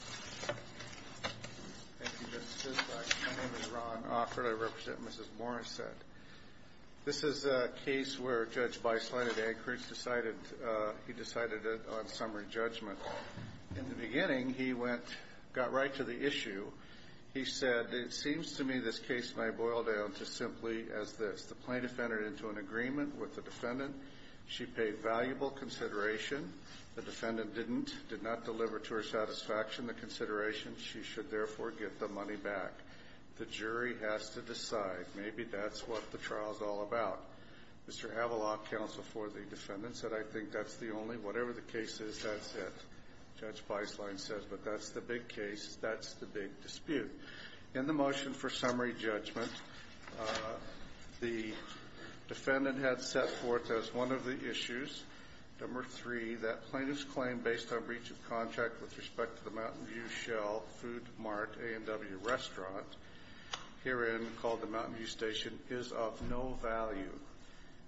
My name is Ron Offred. I represent Mrs. Morrissette. This is a case where Judge Beislein of the Anchorage decided, he decided on summary judgment. In the beginning, he went, got right to the issue. He said, it seems to me this case may boil down to simply as this. The plaintiff entered into an agreement with the defendant. She paid valuable consideration. The defendant didn't, did not deliver to her satisfaction the consideration. She should therefore get the money back. The jury has to decide. Maybe that's what the trial's all about. Mr. Avala, counsel for the defendant, said, I think that's the only, whatever the case is, that's it. Judge Beislein said, but that's the big case. That's the big dispute. In the motion for summary judgment, the defendant had set forth as one of the issues, number three, that plaintiff's claim based on breach of contract with respect to the Mountain View Shell Food Mart A&W restaurant, herein called the Mountain View Station, is of no value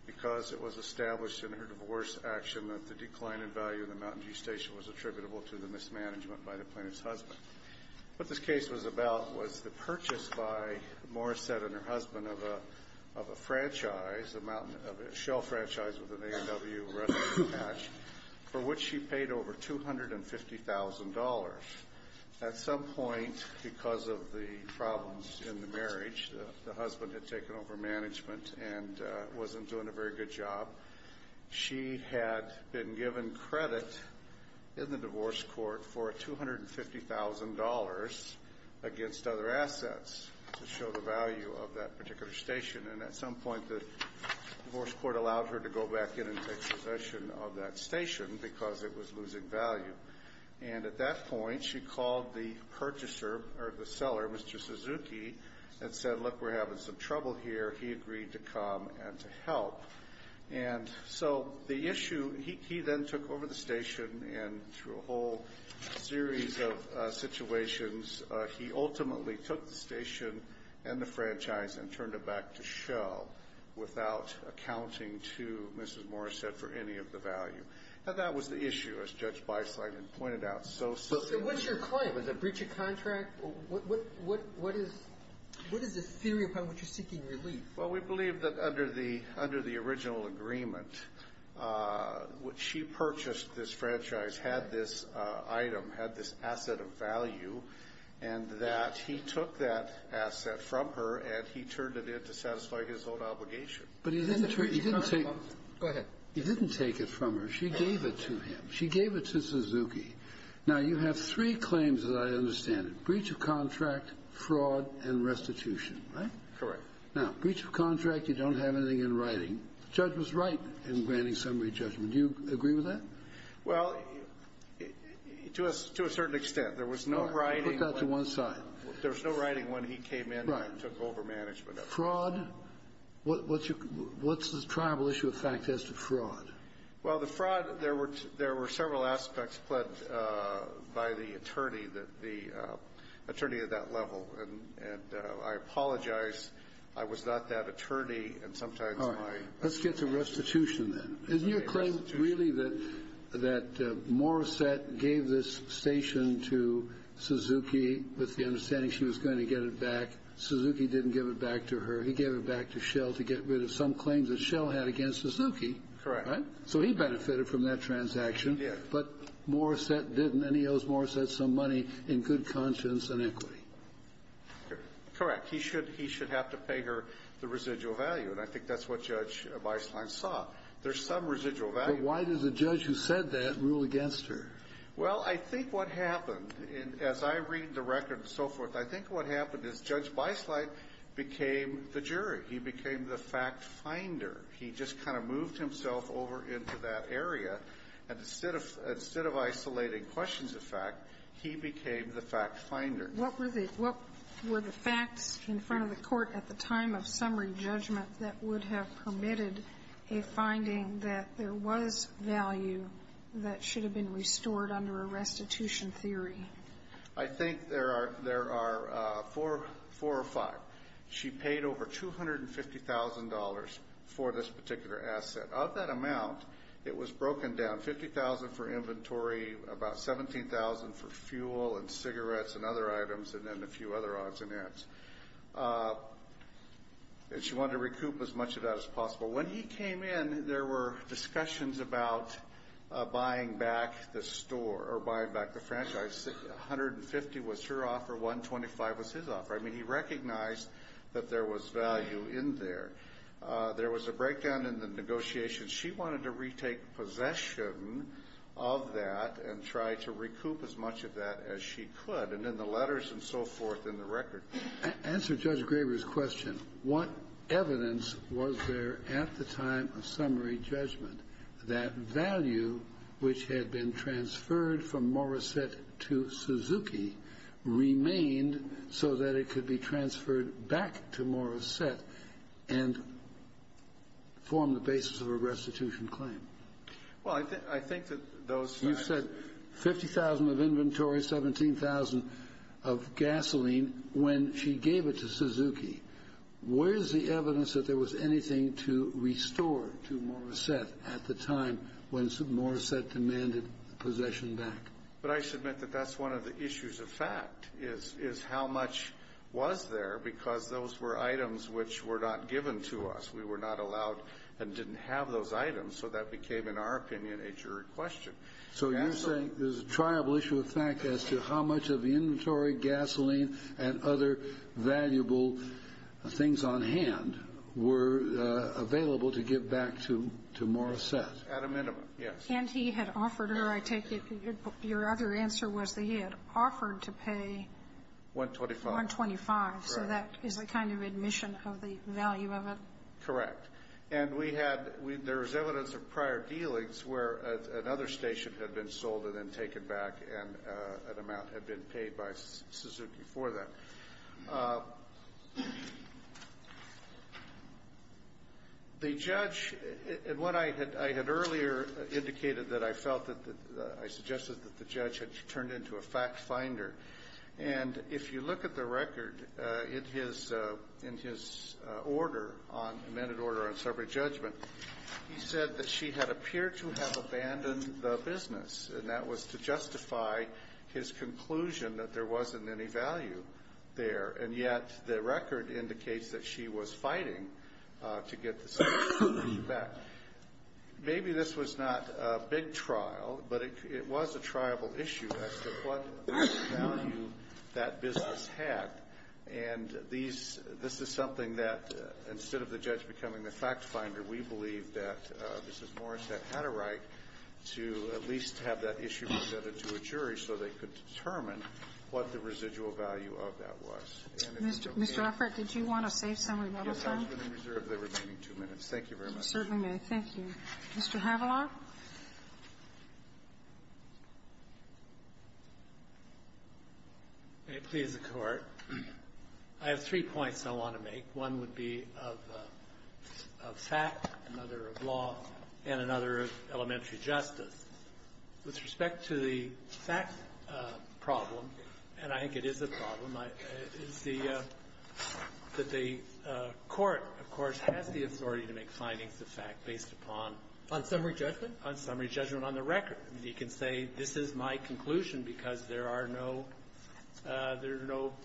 because it was established in her divorce action that the decline in value of the Mountain View Station was attributable to the mismanagement by the plaintiff's husband. What this case was about was the purchase by Morrissette and her husband of a franchise, a shell franchise with an A&W restaurant attached, for which she paid over $250,000. At some point, because of the problems in the marriage, the husband had taken over management and wasn't doing a very good job. She had been given credit in the divorce court for $250,000 against other assets to show the value of that particular station. At some point, the divorce court allowed her to go back in and take possession of that station because it was losing value. At that point, she called the seller, Mr. Suzuki, and said, look, we're having some trouble here. He agreed to come and to help. The issue, he then took over the station, and through a whole series of situations, he ultimately took the station and the franchise and turned it back to Shell without accounting to Mrs. Morrissette for any of the value. Now, that was the issue, as Judge Beisle had pointed out. So what's your claim? Is it a breach of contract? What is the theory upon which you're seeking relief? Well, we believe that under the original agreement, she purchased this franchise, had this item, had this asset of value, and that he took that asset from her and he turned it in to satisfy his own obligation. Go ahead. He didn't take it from her. She gave it to him. She gave it to Suzuki. Now, you have three claims, as I understand it, breach of contract, fraud, and restitution, right? Correct. Now, breach of contract, you don't have anything in writing. The judge was right in granting summary judgment. Do you agree with that? Well, to a certain extent. There was no writing. Put that to one side. There was no writing when he came in and took over management of it. Right. Fraud. What's the tribal issue of fact as to fraud? Well, the fraud, there were several aspects pledged by the attorney, the attorney at that level. And I apologize. I was not that attorney. All right. Let's get to restitution, then. Isn't your claim really that Morissette gave this station to Suzuki with the understanding she was going to get it back? Suzuki didn't give it back to her. He gave it back to Shell to get rid of some claims that Shell had against Suzuki. Correct. So he benefited from that transaction. He did. But Morissette didn't, and he owes Morissette some money in good conscience and equity. Correct. He should have to pay her the residual value, and I think that's what Judge Weisslein saw. There's some residual value. But why does a judge who said that rule against her? Well, I think what happened, and as I read the record and so forth, I think what happened is Judge Weisslein became the jury. He became the fact finder. He just kind of moved himself over into that area. And instead of isolating questions of fact, he became the fact finder. What were the facts in front of the court at the time of summary judgment that would have permitted a finding that there was value that should have been restored under a restitution theory? I think there are four or five. She paid over $250,000 for this particular asset. Of that amount, it was broken down, $50,000 for inventory, about $17,000 for fuel and cigarettes and other items, and then a few other odds and ends. And she wanted to recoup as much of that as possible. When he came in, there were discussions about buying back the store or buying back the franchise. $150,000 was her offer, $125,000 was his offer. I mean, he recognized that there was value in there. There was a breakdown in the negotiations. She wanted to retake possession of that and try to recoup as much of that as she could, and in the letters and so forth in the record. Answer Judge Graber's question. What evidence was there at the time of summary judgment that value, which had been transferred from Morissette to Suzuki, remained so that it could be transferred back to Morissette and form the basis of a restitution claim? Well, I think that those facts... You said $50,000 of inventory, $17,000 of gasoline. When she gave it to Suzuki, where is the evidence that there was anything to restore to Morissette at the time when Morissette demanded possession back? But I submit that that's one of the issues of fact is how much was there because those were items which were not given to us. We were not allowed and didn't have those items, so that became, in our opinion, a jury question. So you're saying there's a triable issue of fact as to how much of the inventory, gasoline, and other valuable things on hand were available to give back to Morissette? At a minimum, yes. And he had offered her, I take it, your other answer was that he had offered to pay... $125,000. $125,000. Right. So that is a kind of admission of the value of it? Correct. And we had, there was evidence of prior dealings where another station had been sold and then taken back and an amount had been paid by Suzuki for that. The judge, and what I had earlier indicated that I felt that, I suggested that the judge had turned into a fact finder. And if you look at the record in his order, amended order on severed judgment, he said that she had appeared to have abandoned the business, and that was to justify his conclusion that there wasn't any value there. And yet the record indicates that she was fighting to get the severed value back. Now, maybe this was not a big trial, but it was a triable issue as to what value that business had. And these, this is something that instead of the judge becoming the fact finder, we believe that Mrs. Morissette had a right to at least have that issue presented to a jury so they could determine what the residual value of that was. Mr. Offert, did you want to save some remittance time? Yes, I was going to reserve the remaining two minutes. Thank you very much. Certainly, ma'am. Thank you. Mr. Haviland. May it please the Court. I have three points I want to make. One would be of fact, another of law, and another of elementary justice. With respect to the fact problem, and I think it is a problem, is the court, of course, has the authority to make findings of fact based upon the record. On summary judgment? On summary judgment on the record. He can say, this is my conclusion because there are no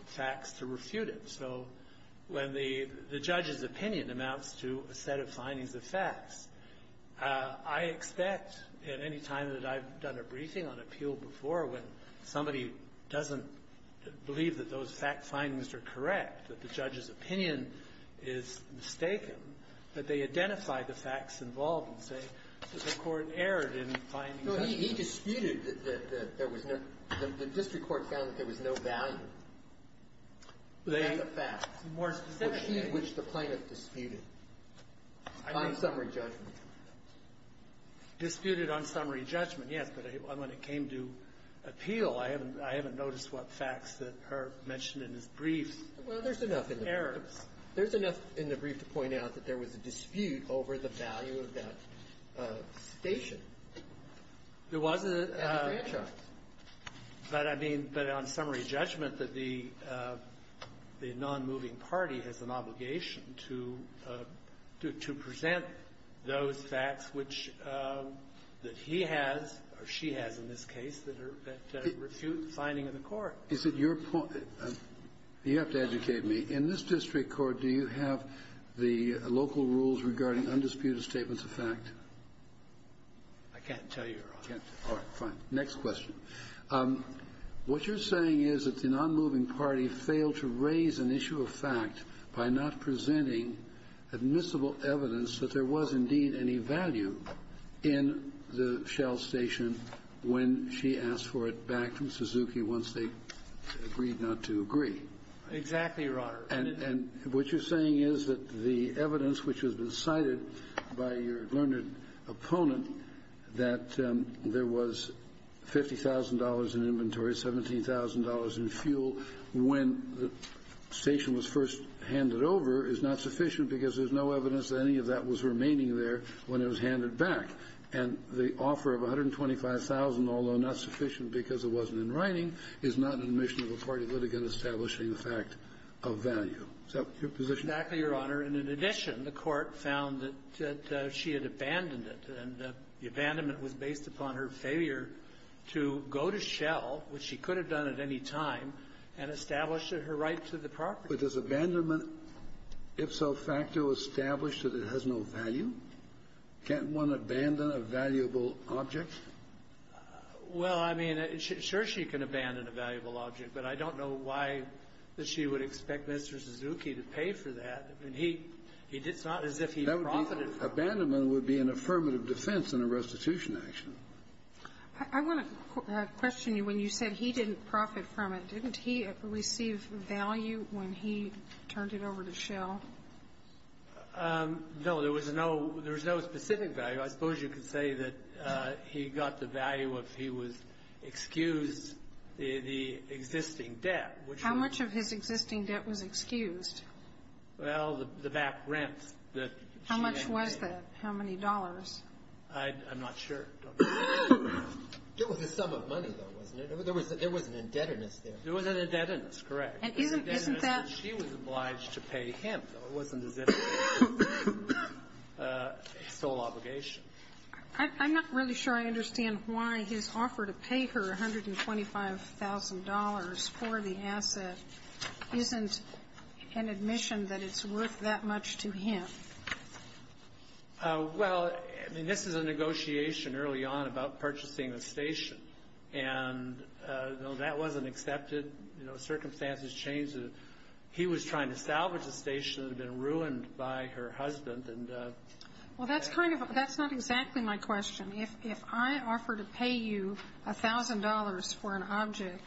facts to refute it. So when the judge's opinion amounts to a set of findings of facts, I expect at any time that I've done a briefing on appeal before when somebody doesn't believe that those fact findings are correct, that the judge's opinion is mistaken, that they identify the facts involved and say that the Court erred in finding those findings. No. He disputed that there was no – the district court found that there was no value of the facts. More specifically. Which the plaintiff disputed on summary judgment. Disputed on summary judgment, yes. But when it came to appeal, I haven't noticed what facts that are mentioned in his briefs. Well, there's enough in the brief. Errors. There's enough in the brief to point out that there was a dispute over the value of that station. There wasn't. And the franchise. But, I mean, but on summary judgment, that the nonmoving party has an obligation to present those facts which – that he has, or she has in this case, that refute the finding of the Court. Is it your point – you have to educate me. In this district court, do you have the local rules regarding undisputed statements of fact? I can't tell you, Your Honor. All right. Fine. Next question. What you're saying is that the nonmoving party failed to raise an issue of fact by not presenting admissible evidence that there was indeed any value in the Shell station when she asked for it back from Suzuki once they agreed not to agree. Exactly, Your Honor. And what you're saying is that the evidence which has been cited by your learned opponent that there was $50,000 in inventory, $17,000 in fuel when the station was first handed over is not sufficient because there's no evidence that any of that was remaining there when it was handed back, and the offer of $125,000, although not sufficient because it wasn't in writing, is not an admission of a party litigant establishing the fact of value. Is that your position? Exactly, Your Honor. And in addition, the Court found that she had abandoned it, and the abandonment was based upon her failure to go to Shell, which she could have done at any time, and establish her right to the property. But does abandonment ipso facto establish that it has no value? Can't one abandon a valuable object? Well, I mean, sure she can abandon a valuable object, but I don't know why she would expect Mr. Suzuki to pay for that. I mean, he did not, as if he profited from it. Abandonment would be an affirmative defense in a restitution action. I want to question you. When you said he didn't profit from it, didn't he receive value when he turned it over to Shell? No. There was no specific value. I suppose you could say that he got the value if he was excused the existing debt. How much of his existing debt was excused? Well, the back rents that she had. How much was that? How many dollars? I'm not sure. It was a sum of money, though, wasn't it? There was an indebtedness there. There was an indebtedness, correct. There was an indebtedness that she was obliged to pay him. It wasn't as if it was his sole obligation. I'm not really sure I understand why his offer to pay her $125,000 for the asset isn't an admission that it's worth that much to him. Well, I mean, this is a negotiation early on about purchasing a station. And, you know, that wasn't accepted. You know, circumstances changed. He was trying to salvage a station that had been ruined by her husband. Well, that's not exactly my question. If I offer to pay you $1,000 for an object,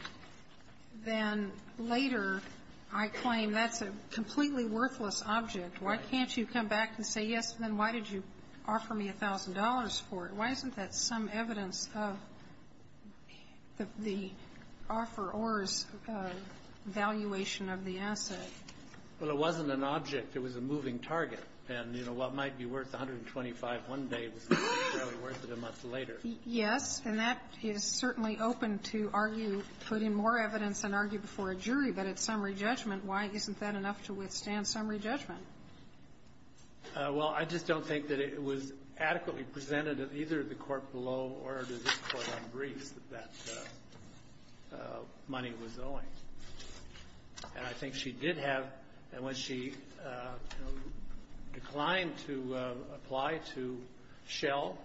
then later I claim that's a completely worthless object. Why can't you come back and say, yes, then why did you offer me $1,000 for it? Why isn't that some evidence of the offeror's valuation of the asset? Well, it wasn't an object. It was a moving target. And, you know, what might be worth $125,000 one day wasn't necessarily worth it a month later. Yes. And that is certainly open to argue, put in more evidence and argue before a jury. But at summary judgment, why isn't that enough to withstand summary judgment? Well, I just don't think that it was adequately presented to either the court below or to this Court on briefs that that money was owing. And I think she did have, and when she declined to apply to Shell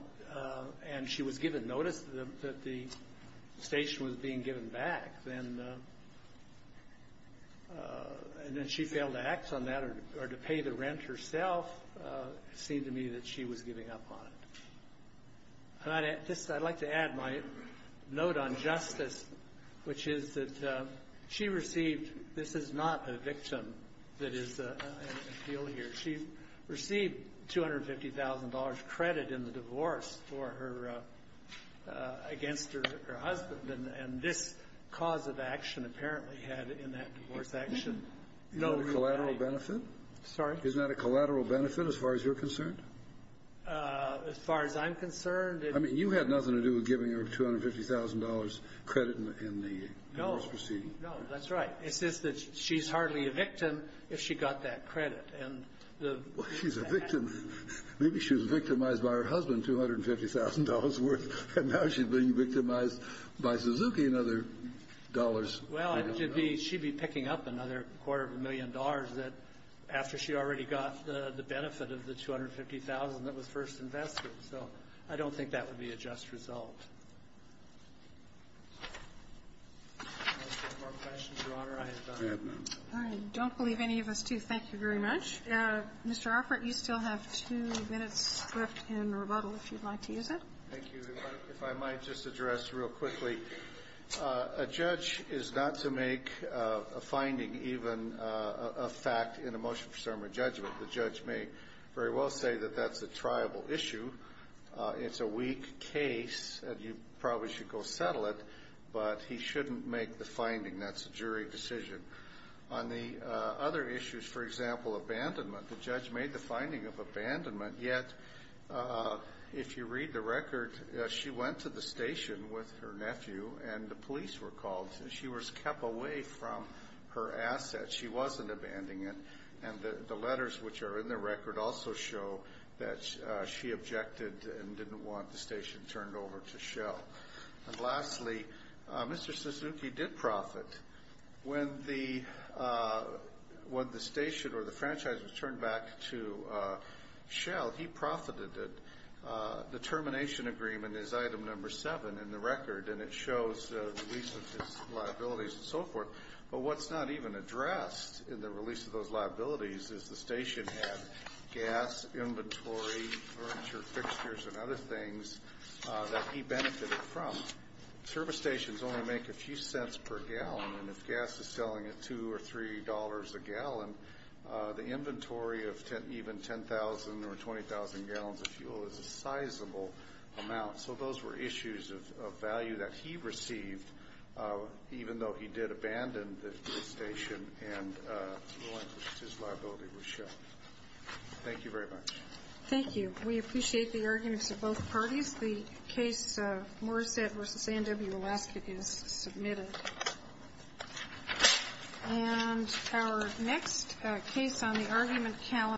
and she was given notice that the station was being given back, then she failed to act on that or to pay the rent herself. It seemed to me that she was giving up on it. I'd like to add my note on justice, which is that she received this is not a victim that is an appeal here. She received $250,000 credit in the divorce for her against her husband. And this cause of action apparently had in that divorce action no real value. Is that a collateral benefit? Sorry? Is that a collateral benefit as far as you're concerned? As far as I'm concerned? I mean, you had nothing to do with giving her $250,000 credit in the divorce proceeding. No. No. That's right. It's just that she's hardly a victim if she got that credit. And the fact that she's a victim, maybe she was victimized by her husband, $250,000 worth, and now she's being victimized by Suzuki and other dollars. Well, she'd be picking up another quarter of a million dollars that after she already got the benefit of the $250,000 that was first invested. So I don't think that would be a just result. Any more questions, Your Honor? I have none. All right. I don't believe any of us do. Thank you very much. Mr. Offert, you still have two minutes left in rebuttal if you'd like to use it. Thank you. If I might just address real quickly, a judge is not to make a finding even a fact in a motion for summary judgment. The judge may very well say that that's a triable issue. It's a weak case and you probably should go settle it, but he shouldn't make the finding. That's a jury decision. On the other issues, for example, abandonment, the judge made the finding of abandonment, yet if you read the record, she went to the station with her nephew and the police were called. She was kept away from her assets. She said that she wasn't abandoning it. And the letters which are in the record also show that she objected and didn't want the station turned over to Shell. And lastly, Mr. Suzuki did profit. When the station or the franchise was turned back to Shell, he profited it. The termination agreement is item number seven in the record, and it shows the recent liabilities and so forth. But what's not even addressed in the release of those liabilities is the station had gas, inventory, furniture, fixtures, and other things that he benefited from. Service stations only make a few cents per gallon, and if gas is selling at $2 or $3 a gallon, the inventory of even 10,000 or 20,000 gallons of fuel is a sizable amount. So those were issues of value that he received, even though he did abandon the station and his liability was shelved. Thank you very much. Thank you. We appreciate the arguments of both parties. The case of Morissette v. A&W Alaska is submitted. And our next case on the argument calendar.